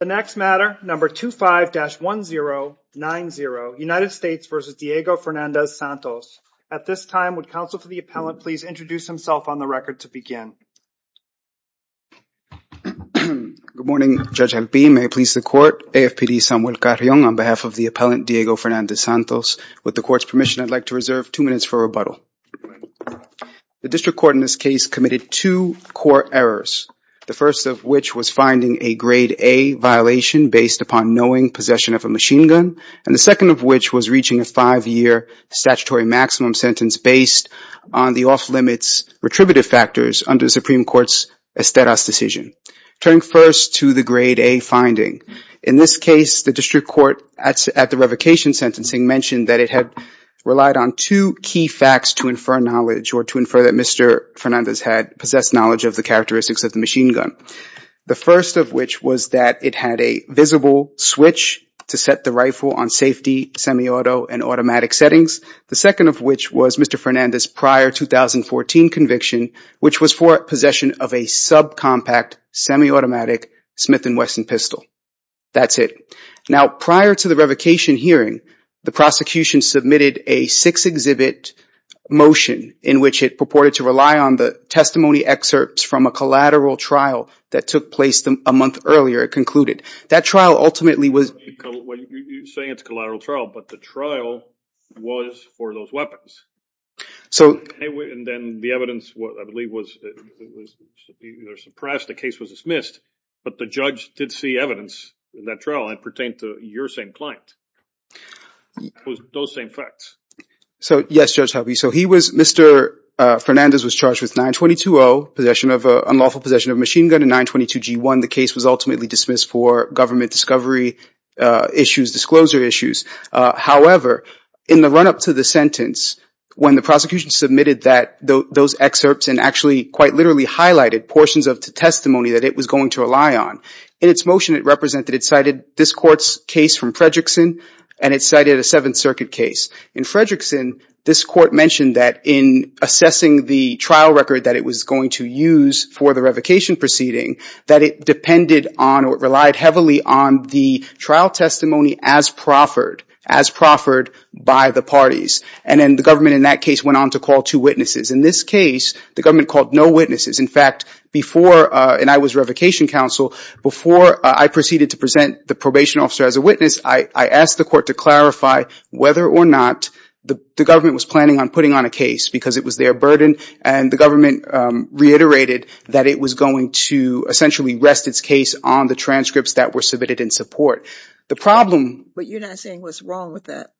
The next matter, number 25-1090, United States v. Diego Fernandez-Santos. At this time, would counsel for the appellant please introduce himself on the record to Good morning, Judge Alpine. May it please the court, AFPD Samuel Carrion on behalf of the appellant Diego Fernandez-Santos. With the court's permission, I'd like to reserve two minutes for rebuttal. The district court in this case committed two core errors, the first of which was finding a grade A violation based upon knowing possession of a machine gun, and the second of which was reaching a five-year statutory maximum sentence based on the off-limits retributive factors under the Supreme Court's Esteras decision. Turning first to the grade A finding, in this case the district court at the revocation sentencing mentioned that it had relied on two key facts to infer knowledge or to infer that Mr. Fernandez had possessed knowledge of the characteristics of the machine gun. The first of which was that it had a visible switch to set the rifle on safety, semi-auto, and automatic settings. The second of which was Mr. Fernandez's prior 2014 conviction, which was for possession of a subcompact, semi-automatic Smith & Wesson pistol. That's it. Now, prior to the revocation hearing, the prosecution submitted a six-exhibit motion in which it purported to rely on the testimony excerpts from a collateral trial that took place a month earlier, it concluded. That trial ultimately was- You're saying it's a collateral trial, but the trial was for those weapons. And then the evidence, I believe, was suppressed, the case was dismissed, but the judge did see evidence in that trial that pertained to your same client. Those same facts. Yes, Judge Harvey. So Mr. Fernandez was charged with 922-0, unlawful possession of a machine gun, and 922-G1. The case was ultimately dismissed for government discovery issues, disclosure issues. However, in the run-up to the sentence, when the prosecution submitted those excerpts and actually quite literally highlighted portions of the testimony that it was going to rely on, in its motion it represented, it cited this court's case from Fredrickson, and it cited a Seventh Circuit case. In Fredrickson, this court mentioned that in assessing the trial record that it was going to use for the revocation proceeding, that it depended on or relied heavily on the trial testimony as proffered, as proffered by the parties. And then the government in that case went on to call two witnesses. In this case, the government called no witnesses. In fact, before, and I was revocation counsel, before I proceeded to present the probation officer as a witness, I asked the court to clarify whether or not the government was planning on putting on a case, because it was their burden. And the government reiterated that it was going to essentially rest its case on the transcripts that were submitted in support. The problem- But you're not saying what's wrong with that?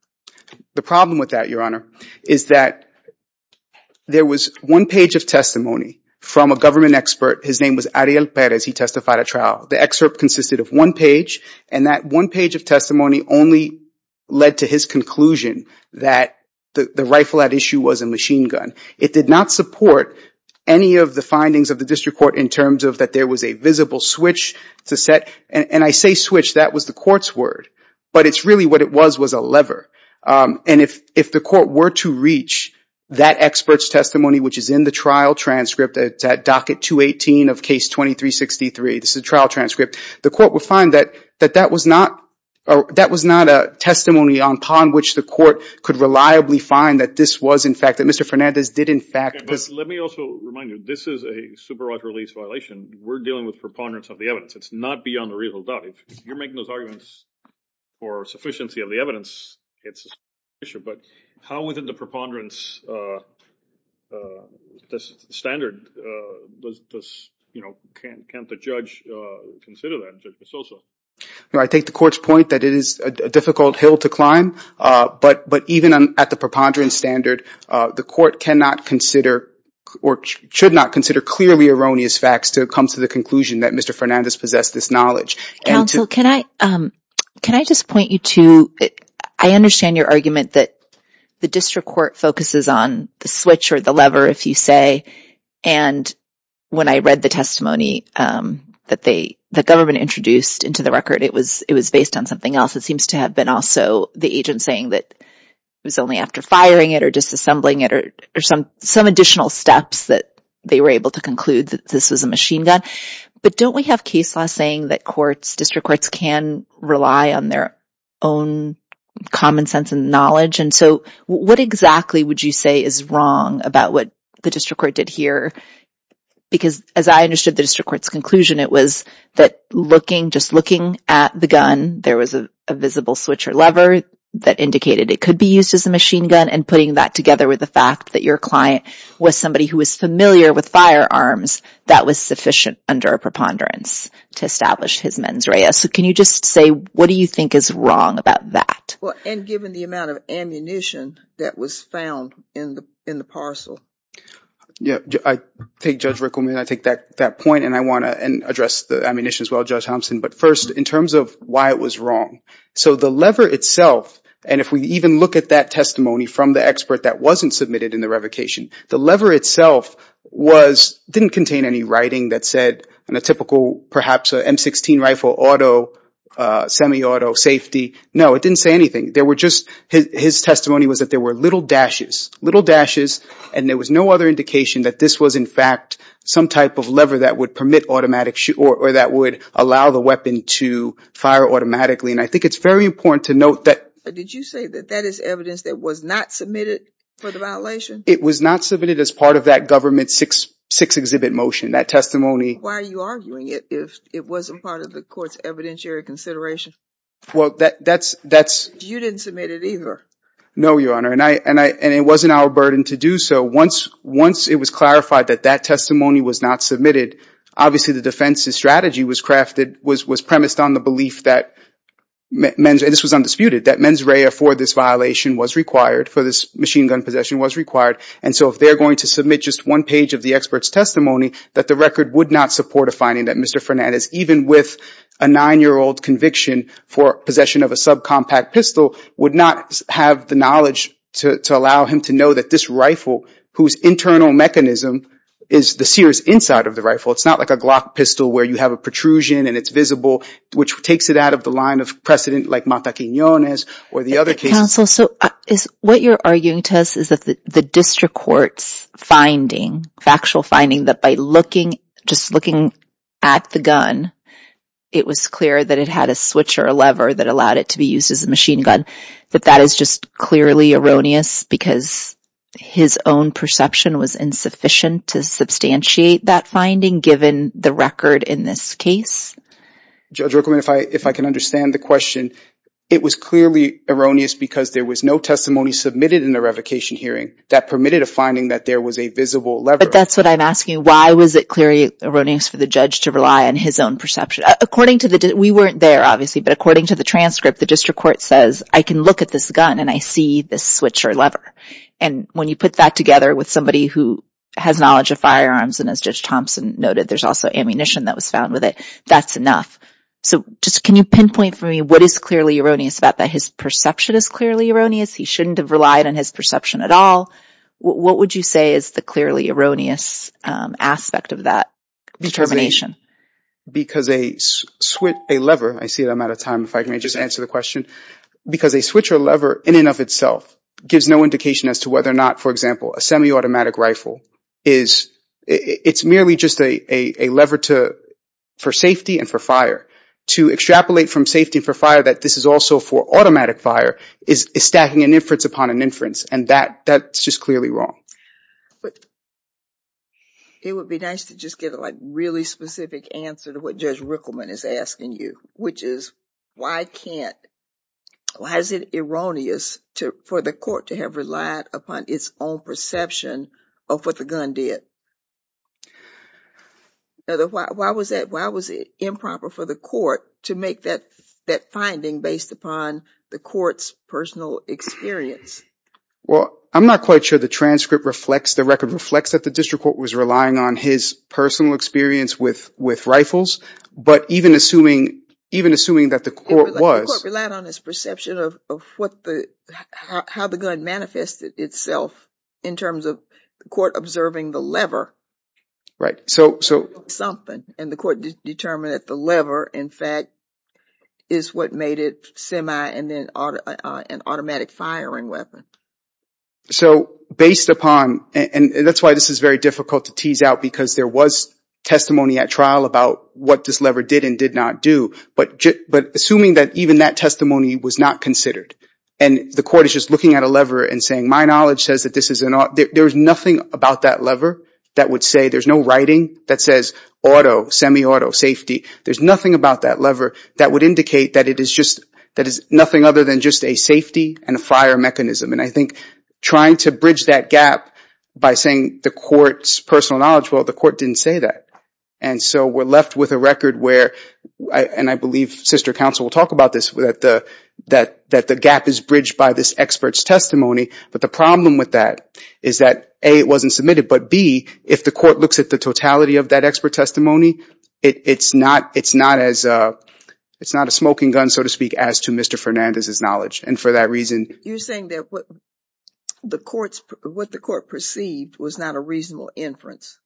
The problem with that, Your Honor, is that there was one page of testimony from a government expert. His name was Ariel Perez. He testified at trial. The excerpt consisted of one page, and that one page of testimony only led to his conclusion that the rifle at issue was a machine gun. It did not support any of the findings of the district court in terms of that there was a visible switch to set, and I say switch, that was the court's word. But it's really what it was, was a lever. And if the court were to reach that expert's testimony, which is in the trial transcript at docket 218 of case 2363, this is a trial transcript, the court would find that that was not a testimony upon which the court could reliably find that this was, in fact, that Mr. Fernandez did, in fact- Okay, but let me also remind you, this is a supervised release violation. We're dealing with preponderance of the evidence. It's not beyond a reasonable doubt. If you're making those arguments for sufficiency of the evidence, it's an issue. But how within the preponderance standard can't the judge consider that? I take the court's point that it is a difficult hill to climb, but even at the preponderance standard, the court cannot consider or should not consider clearly erroneous facts to come to the conclusion that Mr. Fernandez possessed this knowledge. Counsel, can I just point you to, I understand your argument that the district court focuses on the switch or the lever, if you say, and when I read the testimony that the government introduced into the record, it was based on something else. It seems to have been also the agent saying that it was only after firing it or disassembling it or some additional steps that they were able to conclude that this was a machine gun. But don't we have case law saying that courts, district courts can rely on their own common sense and knowledge? And so what exactly would you say is wrong about what the district court did here? Because as I understood the district court's conclusion, it was that looking, just looking at the gun, there was a visible switch or lever that indicated it could be used as a machine gun and putting that together with the fact that your client was somebody who was familiar with firearms. That was sufficient under a preponderance to establish his mens rea. So can you just say, what do you think is wrong about that? Well, and given the amount of ammunition that was found in the parcel. Yeah, I think Judge Rickleman, I take that point and I want to address the ammunition as well, Judge Thompson, but first in terms of why it was wrong. So the lever itself, and if we even look at that testimony from the expert that wasn't submitted in the revocation, the lever itself was, didn't contain any writing that said in a typical, perhaps a M16 rifle, auto, semi-auto safety. No, it didn't say anything. There were just, his testimony was that there were little dashes, little dashes, and there was no other indication that this was in fact some type of lever that would permit automatic shoot or that would allow the weapon to fire automatically. And I think it's very important to note that. Did you say that that is evidence that was not submitted for the violation? It was not submitted as part of that government six exhibit motion, that testimony. Why are you arguing it if it wasn't part of the court's evidentiary consideration? Well, that's... You didn't submit it either. No, Your Honor, and it wasn't our burden to do so. Once it was clarified that that testimony was not submitted, obviously the defense's strategy was crafted, was premised on the belief that, and this was undisputed, that mens rea for this violation was required, for this machine gun possession was required. And so if they're going to submit just one page of the expert's testimony, that the record would not support a finding that Mr. Fernandez, even with a nine-year-old conviction for possession of a subcompact pistol, would not have the knowledge to allow him to know that this rifle, whose internal mechanism is the sear's inside of the rifle, it's not like a Glock pistol where you have a protrusion and it's visible, which takes it out of the line of precedent like Mata Quinones or the other cases. Counsel, so what you're arguing to us is that the district court's finding, factual finding, that by looking, just looking at the gun, it was clear that it had a switch or a lever that allowed it to be used as a machine gun, that that is just clearly erroneous because his own perception was insufficient to substantiate that finding given the record in this case? Judge Ruckelman, if I can understand the question, it was clearly erroneous because there was no testimony submitted in the revocation hearing that permitted a finding that there was a visible lever. But that's what I'm asking. Why was it clearly erroneous for the judge to rely on his own perception? According to the... We weren't there, obviously, but according to the transcript, the district court says, I can look at this gun and I see this switch or lever. And when you put that together with somebody who has knowledge of firearms, and as Judge Thompson noted, there's also ammunition that was found with it, that's enough. So just can you pinpoint for me what is clearly erroneous about that? His perception is clearly erroneous. He shouldn't have relied on his perception at all. What would you say is the clearly erroneous aspect of that determination? Because a lever, I see that I'm out of time. Can I just answer the question? Because a switch or lever in and of itself gives no indication as to whether or not, for example, a semi-automatic rifle is, it's merely just a lever for safety and for fire. To extrapolate from safety and for fire that this is also for automatic fire is stacking an inference upon an inference. And that's just clearly wrong. It would be nice to just get a really specific answer to what Judge Rickleman is asking you, which is why can't, why is it erroneous to, for the court to have relied upon its own perception of what the gun did? Why was that? Why was it improper for the court to make that, that finding based upon the court's personal experience? Well, I'm not quite sure the transcript reflects, the record reflects that the district court was relying on his personal experience with, with rifles, but even assuming, even assuming that the court was. The court relied on his perception of what the, how the gun manifested itself in terms of the court observing the lever. Right. So, so. And the court determined that the lever, in fact, is what made it semi and then an automatic firing weapon. So based upon, and that's why this is very difficult to tease out because there was testimony at trial about what this lever did and did not do, but, but assuming that even that testimony was not considered. And the court is just looking at a lever and saying, my knowledge says that this is an, there's nothing about that lever that would say, there's no writing that says auto, semi-auto safety. There's nothing about that lever that would indicate that it is just, that is nothing other than just a safety and a fire mechanism. And I think trying to bridge that gap by saying the court's personal knowledge, well, the court didn't say that. And so we're left with a record where, and I believe sister counsel will talk about this, that the, that, that the gap is bridged by this expert's testimony. But the problem with that is that A, it wasn't submitted, but B, if the court looks at the totality of that expert testimony, it's not, it's not as a, it's not a smoking gun, so to speak as to Mr. Fernandez's knowledge. And for that reason. You're saying that what the courts, what the court perceived was not a reasonable inference.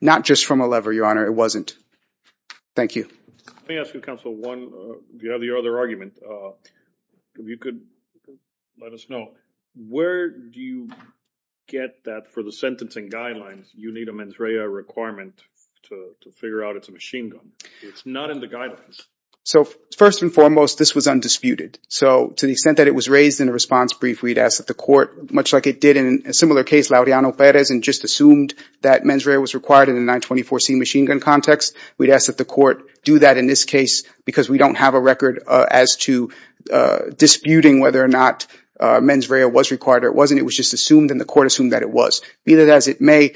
Not just from a lever, your honor. It wasn't. Thank you. Let me ask you counsel one, if you have the other argument, if you could let us know, where do you get that for the sentencing guidelines? You need a mens rea requirement to figure out it's a machine gun. It's not in the guidelines. So first and foremost, this was undisputed. So to the extent that it was raised in a response brief, we'd ask that the court, much like it did in a similar case, and just assumed that mens rea was required in the 924c machine gun context. We'd ask that the court do that in this case, because we don't have a record as to disputing whether or not mens rea was required or it wasn't. It was just assumed and the court assumed that it was. Be that as it may,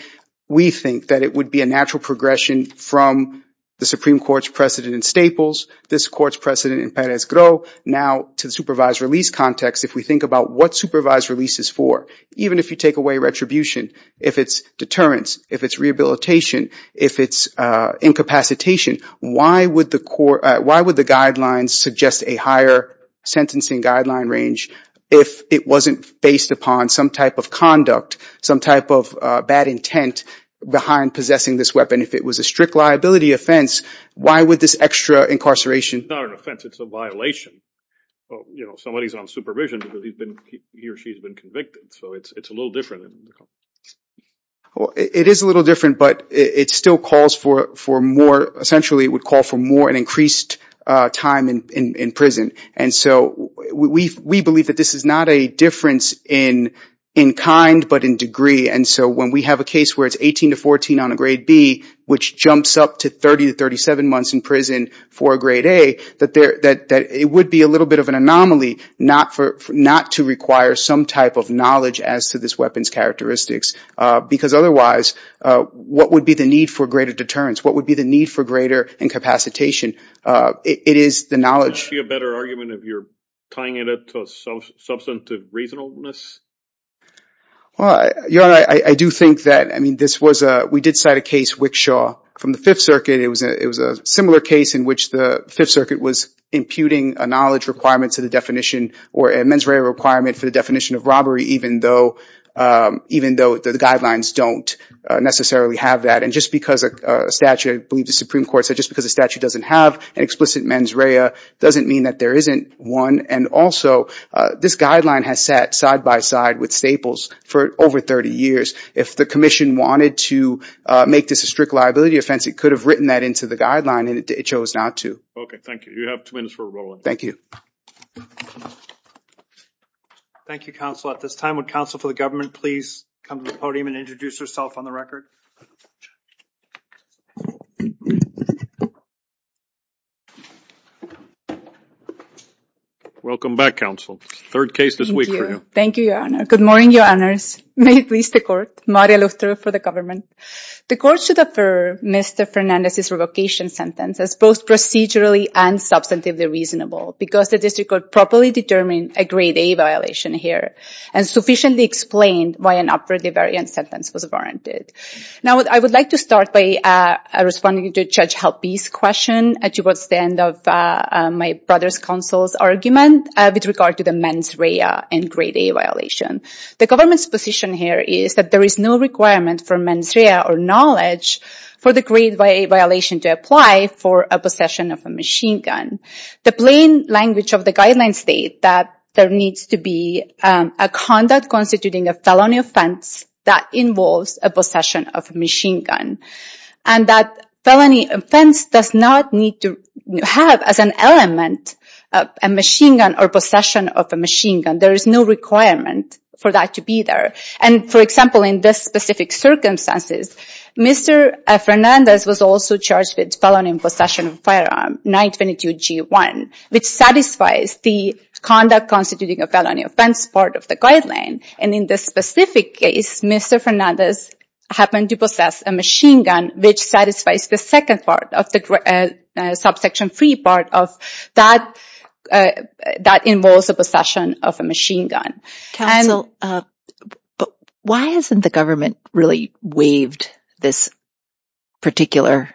we think that it would be a natural progression from the Supreme Court's precedent in Staples, this court's precedent in Perez-Gro, now to the supervised release context. If we think about what supervised release is for, even if you take away retribution, if it's deterrence, if it's rehabilitation, if it's incapacitation, why would the guidelines suggest a higher sentencing guideline range if it wasn't based upon some type of conduct, some type of bad intent behind possessing this weapon? If it was a strict liability offense, why would this extra incarceration... It's not an offense, it's a violation. Somebody's on supervision because he or she's been convicted. It's a little different. It is a little different, but it still calls for more... Essentially, it would call for more and increased time in prison. We believe that this is not a difference in kind, but in degree. And so when we have a case where it's 18 to 14 on a grade B, which jumps up to 30 to 37 months in prison for a grade A, that it would be a little bit of an anomaly not to require some type of knowledge as to this weapon's characteristics. Because otherwise, what would be the need for greater deterrence? What would be the need for greater incapacitation? It is the knowledge... Is there a better argument if you're tying it up to substantive reasonableness? Well, I do think that... We did cite a case, Wickshaw, from the Fifth Circuit. It was a similar case in which the Fifth Circuit was imputing a knowledge requirement to the definition or a mens rea requirement for the definition of robbery, even though the guidelines don't necessarily have that. And just because a statute, I believe the Supreme Court said, just because a statute doesn't have an explicit mens rea doesn't mean that there isn't one. And also, this guideline has sat side by side with Staples for over 30 years. If the commission wanted to make this a strict liability offense, it could have written that into the guideline and it chose not to. Okay, thank you. You have two minutes for rebuttal. Thank you. Thank you, counsel. At this time, would counsel for the government please come to the podium and introduce herself on the record? Welcome back, counsel. Third case this week for you. Thank you, your honor. Good morning, your honors. May it please the court. Maria Luther for the government. The court should defer Mr. Fernandez's revocation sentence as both procedurally and substantively reasonable because the district could properly determine a grade A violation here and sufficiently explain why an upwardly variant sentence was warranted. Now, I would like to start by responding to Judge Halpe's question towards the end of my brother's counsel's argument with regard to the mens rea and grade A violation. The government's position here is that there is no requirement for mens rea or knowledge for the grade A violation to apply for a possession of a machine gun. The plain language of the guidelines state that there needs to be a conduct constituting a felony offense that involves a possession of a machine gun. And that felony offense does not need to have as an element a machine gun or possession of a machine gun. There is no requirement for that to be there. And for example, in this specific circumstances, Mr. Fernandez was also charged with felony possession of a firearm, 922 G1, which satisfies the conduct constituting a felony offense part of the guideline. And in this specific case, Mr. Fernandez happened to possess a machine gun, which satisfies the second part of the subsection three part that involves a possession of a machine gun. Counsel, why hasn't the government really waived this particular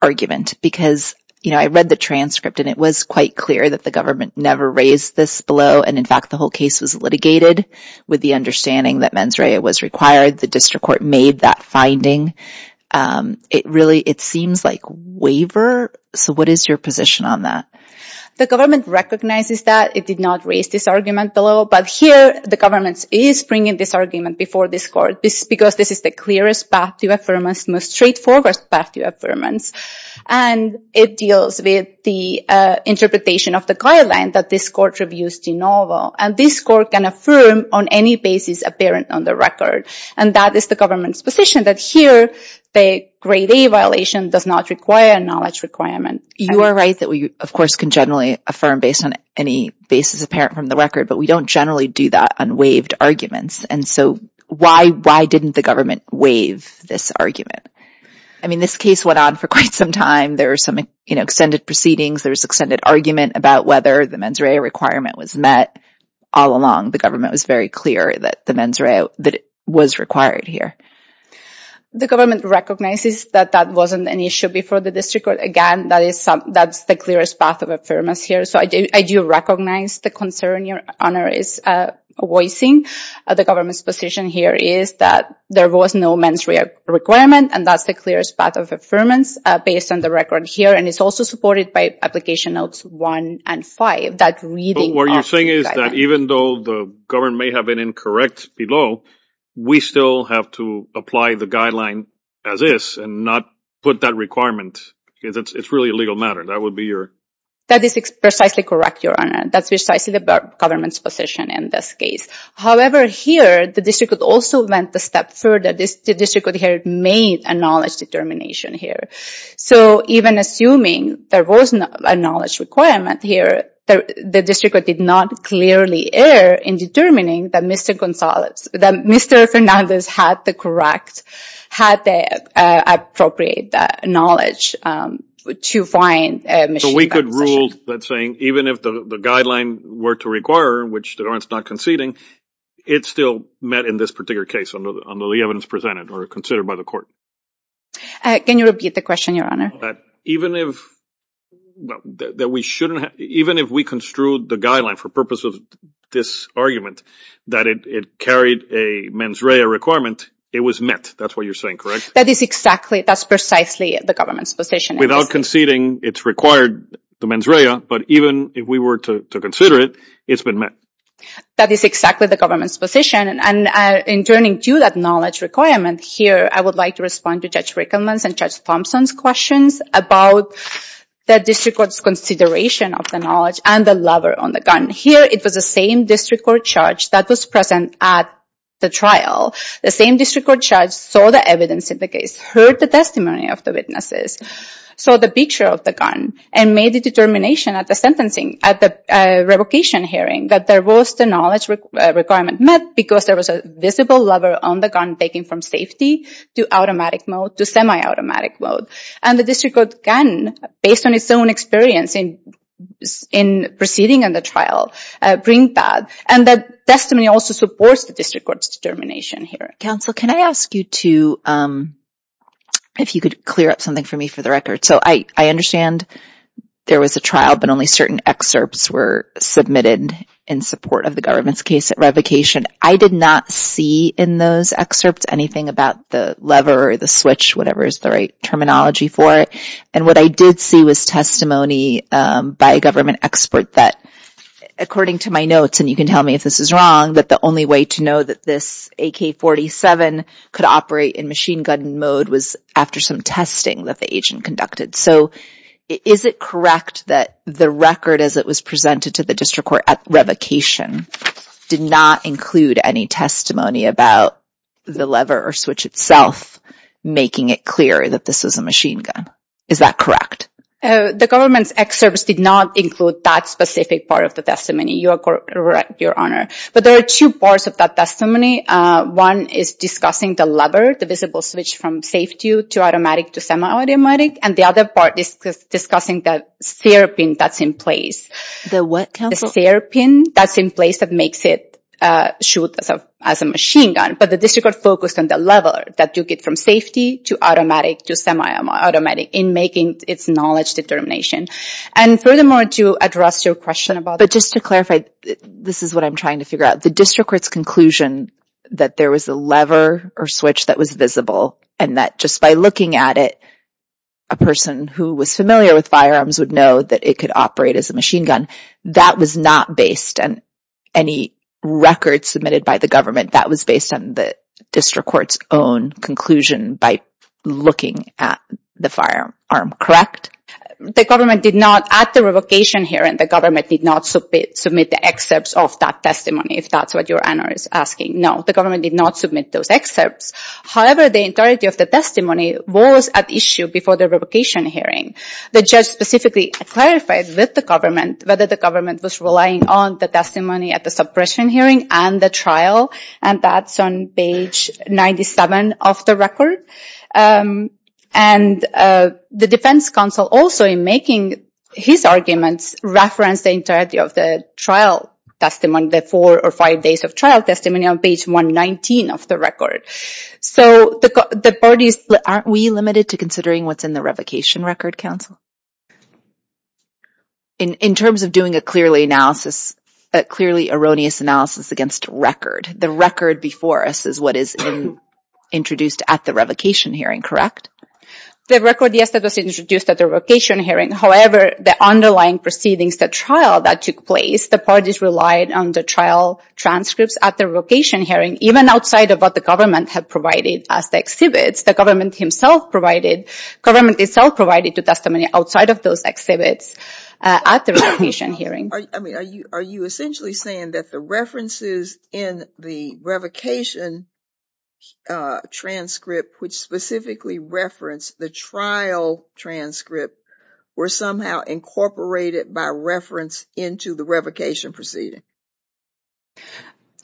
argument? Because, you know, I read the transcript and it was quite clear that the government never raised this below. And in fact, the whole case was litigated with the understanding that mens rea was required. The district court made that finding. It really, it seems like waiver. So what is your position on that? The government recognizes that it did not raise this argument below, but here the government is bringing this argument before this court because this is the clearest path to affirmance, most straightforward path to affirmance. And it deals with the interpretation of the guideline that this court reviews de novo. And this court can affirm on any basis apparent on the record. And that is the government's position that here the grade A violation does not require a knowledge requirement. You are right that we, of course, can generally affirm based on any basis apparent from the record, but we don't generally do that on waived arguments. And so why, why didn't the government waive this argument? I mean, this case went on for quite some time. There are some, you know, extended proceedings. There was extended argument about whether the mens rea requirement was met all along. The government was very clear that the mens rea was required here. The government recognizes that that wasn't an issue before the district court. Again, that is some, that's the clearest path of affirmance here. I do recognize the concern Your Honor is voicing. The government's position here is that there was no mens rea requirement and that's the clearest path of affirmance based on the record here. And it's also supported by application notes one and five, that reading. What you're saying is that even though the government may have been incorrect below, we still have to apply the guideline as is and not put that requirement because it's really a legal matter. That is precisely correct, Your Honor. That's precisely the government's position in this case. However, here, the district court also went a step further. The district court here made a knowledge determination here. So even assuming there was a knowledge requirement here, the district court did not clearly err in determining that Mr. Fernandez had the correct, had the appropriate knowledge to find a machine gun possession. So we could rule that saying even if the guideline were to require, which the government's not conceding, it's still met in this particular case under the evidence presented or considered by the court. Can you repeat the question, Your Honor? Even if, well, that we shouldn't have, even if we construed the guideline for purpose of this argument, that it carried a mens rea requirement, it was met. That's what you're saying, correct? That is exactly, that's precisely the government's position. Without conceding, it's required the mens rea, but even if we were to consider it, it's been met. That is exactly the government's position. And in turning to that knowledge requirement here, I would like to respond to Judge Rickleman's and Judge Thompson's questions about the district court's consideration of the knowledge and the lever on the gun. Here, it was the same district court charge that was present at the trial. The same district court charge saw the evidence in the case, heard the testimony of the witnesses, saw the picture of the gun, and made the determination at the sentencing, at the revocation hearing, that there was the knowledge requirement met because there was a visible lever on the gun taken from safety to automatic mode, to semi-automatic mode. And the district court can, based on its own experience in proceeding in the trial, bring that. And the testimony also supports the district court's determination here. Counsel, can I ask you to, if you could clear up something for me for the record. So I understand there was a trial, but only certain excerpts were submitted in support of the government's case at revocation. I did not see in those excerpts anything about the lever or the switch, whatever is the right terminology for it. And what I did see was testimony by a government expert that, according to my notes, and you can tell me if this is wrong, that the only way to know that this AK-47 could operate in machine gun mode was after some testing that the agent conducted. So is it correct that the record as it was presented to the district court at revocation did not include any testimony about the lever or switch itself, making it clear that this is a machine gun? Is that correct? The government's excerpts did not include that specific part of the testimony. Your Honor. But there are two parts of that testimony. One is discussing the lever, the visible switch from safety to automatic to semi-automatic. And the other part is discussing the sear pin that's in place. The what counsel? The sear pin that's in place that makes it shoot as a machine gun. But the district court focused on the lever that you get from safety to automatic to semi-automatic in making its knowledge determination. And furthermore, to address your question about- Just to clarify, this is what I'm trying to figure out. The district court's conclusion that there was a lever or switch that was visible and that just by looking at it, a person who was familiar with firearms would know that it could operate as a machine gun. That was not based on any record submitted by the government. That was based on the district court's own conclusion by looking at the firearm, correct? The government did not at the revocation here and the government did not submit the excerpts of that testimony, if that's what your honor is asking. No, the government did not submit those excerpts. However, the entirety of the testimony was at issue before the revocation hearing. The judge specifically clarified with the government whether the government was relying on the testimony at the suppression hearing and the trial. And that's on page 97 of the record. And the defense counsel also in making his arguments referenced the entirety of the trial testimony, the four or five days of trial testimony on page 119 of the record. So the parties, aren't we limited to considering what's in the revocation record counsel? In terms of doing a clearly erroneous analysis against record, the record before us is what is introduced at the revocation hearing, correct? The record, yes, that was introduced at the revocation hearing. However, the underlying proceedings, the trial that took place, the parties relied on the trial transcripts at the revocation hearing, even outside of what the government had provided as the exhibits, the government himself provided, government itself provided the testimony outside of those exhibits at the revocation hearing. Are you essentially saying that the references in the revocation transcript, which specifically referenced the trial transcript, were somehow incorporated by reference into the revocation proceeding?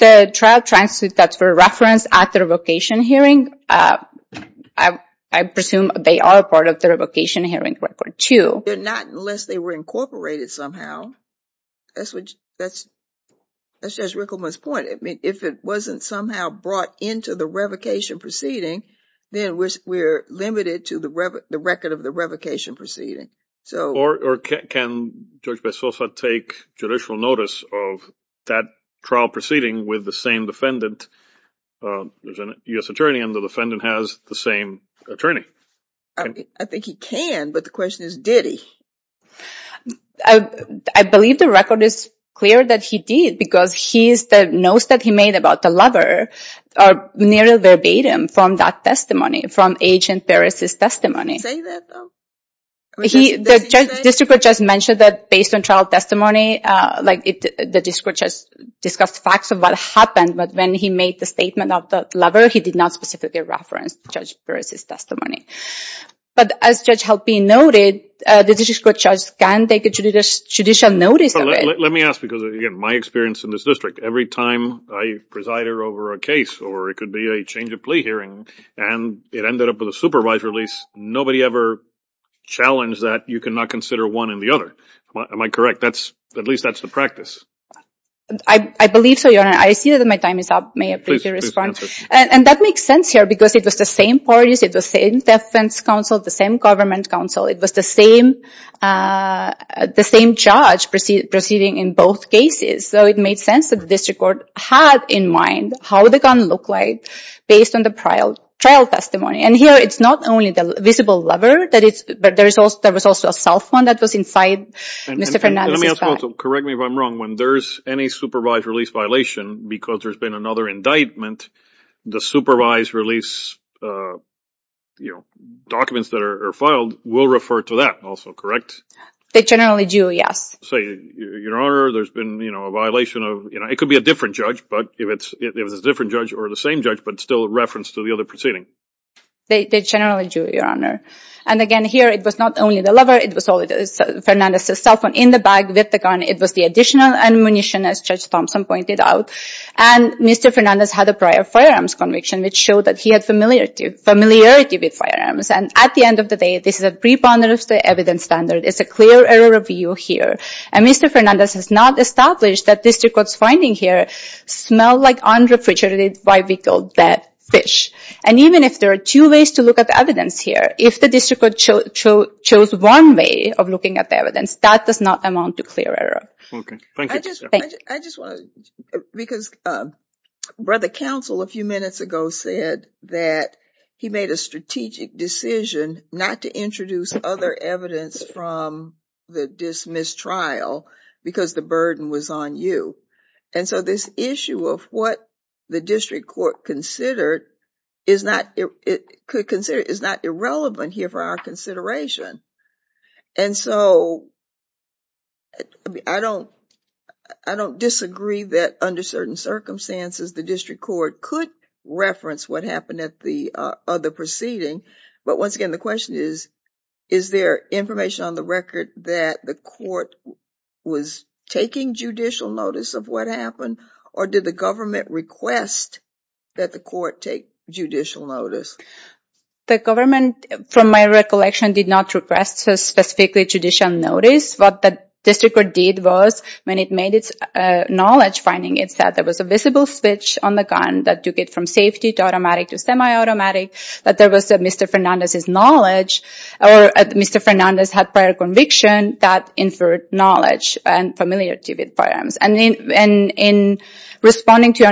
The trial transcripts that were referenced at the revocation hearing, I presume they are a part of the revocation hearing record too. They're not unless they were incorporated somehow. That's just Rickleman's point. I mean, if it wasn't somehow brought into the revocation proceeding, then we're limited to the record of the revocation proceeding. Or can Judge Bessosa take judicial notice of that trial proceeding with the same defendant? There's an U.S. attorney and the defendant has the same attorney. I think he can, but the question is, did he? I believe the record is clear that he did because he knows that he made about the lover near verbatim from that testimony, from Agent Paris' testimony. Did he say that though? He, the district judge mentioned that based on trial testimony, the district judge discussed facts of what happened, but when he made the statement of the lover, he did not specifically reference Judge Paris' testimony. But as Judge Helping noted, the district judge can take judicial notice of it. Let me ask because, again, my experience in this district, every time I preside over a case or it could be a change of plea hearing and it ended up with a supervised release, nobody ever challenged that you cannot consider one and the other. Am I correct? That's, at least that's the practice. I believe so, Your Honor. I see that my time is up. May I please respond? And that makes sense here because it was the same parties, it was the same defense counsel, the same government counsel. It was the same judge proceeding in both cases. So it made sense that the district court had in mind how the gun looked like based on the trial testimony. And here it's not only the visible lover, but there was also a self one that was inside Mr. Fernandez's bag. Let me ask also, correct me if I'm wrong, when there's any supervised release violation because there's been another indictment, the supervised release documents that are filed will refer to that also, correct? They generally do, yes. So, Your Honor, there's been a violation of, it could be a different judge, but if it's a different judge or the same judge, but still a reference to the other proceeding. They generally do, Your Honor. And again, here, it was not only the lover, it was Fernandez's self in the bag with the gun. It was the additional ammunition, as Judge Thompson pointed out. And Mr. Fernandez had a prior firearms conviction which showed that he had familiarity with firearms. And at the end of the day, this is a pre-ponderative evidence standard. It's a clear error of view here. And Mr. Fernandez has not established that this district court's finding here smelled like unrefrigerated, why we call that fish. And even if there are two ways to look at the evidence here, if the district court chose one way of looking at the evidence, that does not amount to clear error. Okay, thank you. I just want to, because Brother Counsel a few minutes ago said that he made a strategic decision not to introduce other evidence from the dismissed trial because the burden was on you. And so this issue of what the district court considered is not irrelevant here for our consideration. And so I don't disagree that under certain circumstances, the district court could reference what happened at the other proceeding. But once again, the question is, is there information on the record that the court was taking judicial notice of what happened or did the government request that the court take judicial notice? The government, from my recollection, did not request specifically judicial notice. What the district court did was when it made its knowledge finding, it said there was a visible switch on the gun that took it from safety to automatic to semi-automatic, that there was Mr. Fernandez's knowledge or Mr. Fernandez had prior conviction that inferred knowledge and familiarity with firearms. And in responding to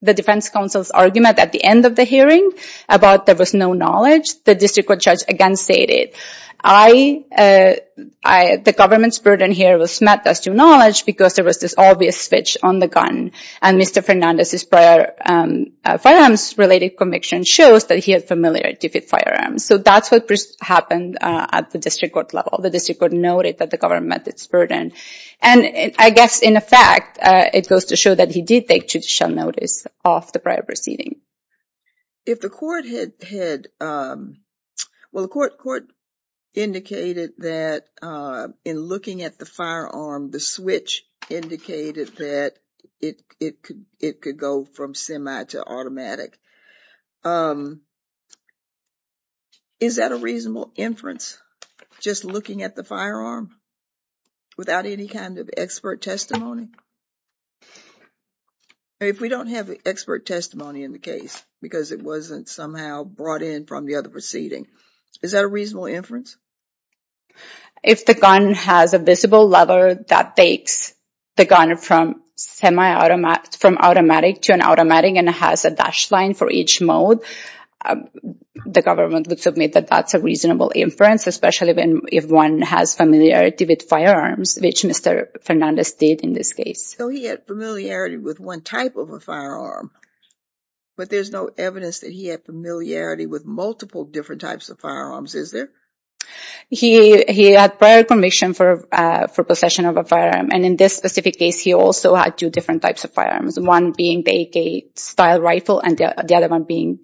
the defense counsel's argument at the end of the hearing about there was no knowledge, the district court judge again stated, the government's burden here was met as to knowledge because there was this obvious switch on the gun. And Mr. Fernandez's prior firearms-related conviction shows that he had familiarity with firearms. So that's what happened at the district court level. The district court noted that the government met its burden. And I guess in effect, it goes to show that he did take judicial notice of the prior proceeding. If the court had, well, the court indicated that in looking at the firearm, the switch indicated that it could go from semi to automatic. Is that a reasonable inference? Just looking at the firearm without any kind of expert testimony? If we don't have expert testimony in the case because it wasn't somehow brought in from the other proceeding, is that a reasonable inference? If the gun has a visible lever that takes the gun from automatic to an automatic and it has a dash line for each mode, the government would submit that that's a reasonable inference. If one has familiarity with firearms, which Mr. Fernandez did in this case. So he had familiarity with one type of a firearm, but there's no evidence that he had familiarity with multiple different types of firearms, is there? He had prior conviction for possession of a firearm. And in this specific case, he also had two different types of firearms. One being the AK-style rifle and the other one being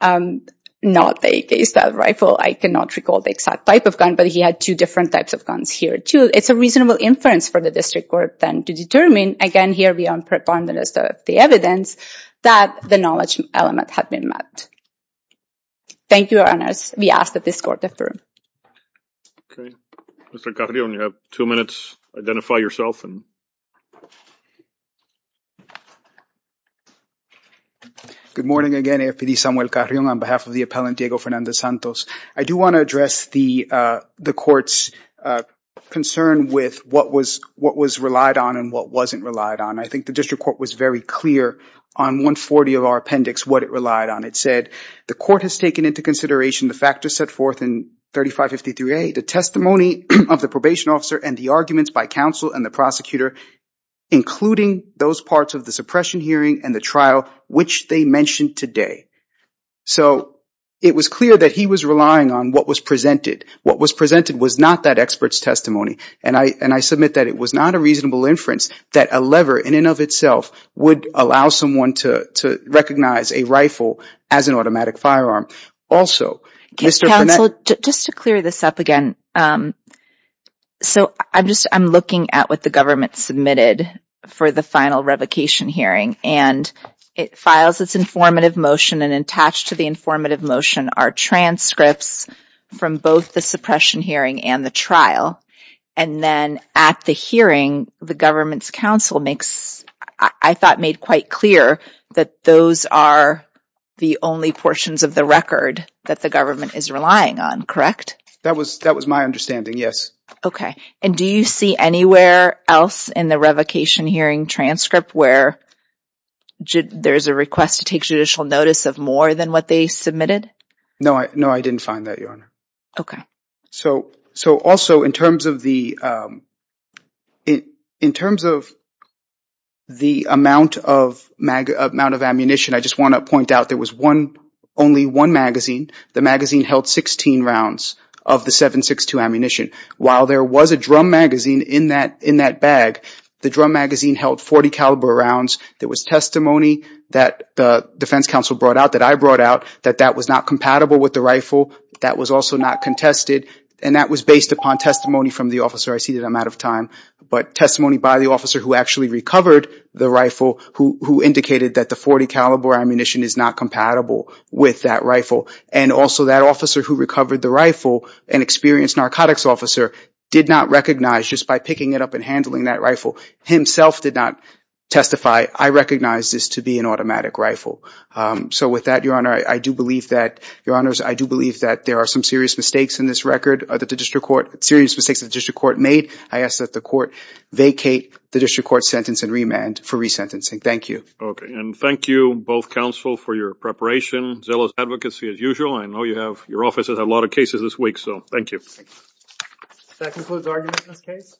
not the AK-style rifle. I cannot recall the exact type of gun, but he had two different types of guns here too. It's a reasonable inference for the district court then to determine, again, here beyond preponderance of the evidence, that the knowledge element had been mapped. Thank you, Your Honors. We ask that this court defer. Okay. Mr. Carrion, you have two minutes. Identify yourself. Good morning again, AFPD Samuel Carrion on behalf of the appellant Diego Fernandez-Santos. I do want to address the court's concern with what was relied on and what wasn't relied on. I think the district court was very clear on 140 of our appendix what it relied on. It said, the court has taken into consideration the factors set forth in 3553A, the testimony of the probation officer and the arguments by counsel and the prosecutor, including those parts of the suppression hearing and the trial, which they mentioned today. So, it was clear that he was relying on what was presented. What was presented was not that expert's testimony. And I submit that it was not a reasonable inference that a lever in and of itself would allow someone to recognize a rifle as an automatic firearm. Also, Mr. Panetta... Counsel, just to clear this up again. So, I'm just, I'm looking at what the government submitted for the final revocation hearing and it files its informative motion and attached to the informative motion are transcripts from both the suppression hearing and the trial. And then at the hearing, the government's counsel makes, I thought made quite clear that those are the only portions of the record that the government is relying on, correct? That was my understanding, yes. Okay. And do you see anywhere else in the revocation hearing transcript where there's a request to take judicial notice of more than what they submitted? No, I didn't find that, Your Honor. So, also in terms of the amount of ammunition, I just want to point out there was only one magazine. The magazine held 16 rounds of the 7.62 ammunition. While there was a drum magazine in that bag, the drum magazine held 40 caliber rounds. There was testimony that the defense counsel brought out, that I brought out, that that was not compatible with the rifle. That was also not contested. And that was based upon testimony from the officer. I see that I'm out of time, but testimony by the officer who actually recovered the rifle who indicated that the 40 caliber ammunition is not compatible with that rifle. And also that officer who recovered the rifle, an experienced narcotics officer, did not recognize just by picking it up and handling that rifle, himself did not testify, I recognize this to be an automatic rifle. So with that, Your Honor, I do believe that, Your Honors, I do believe that there are some serious mistakes in this record, that the district court, serious mistakes that the district court made. I ask that the court vacate the district court sentence and remand for resentencing. Thank you. Okay. And thank you, both counsel, for your preparation, zealous advocacy as usual. I know you have, your offices have a lot of cases this week. So, thank you. That concludes arguments in this case. Thank you.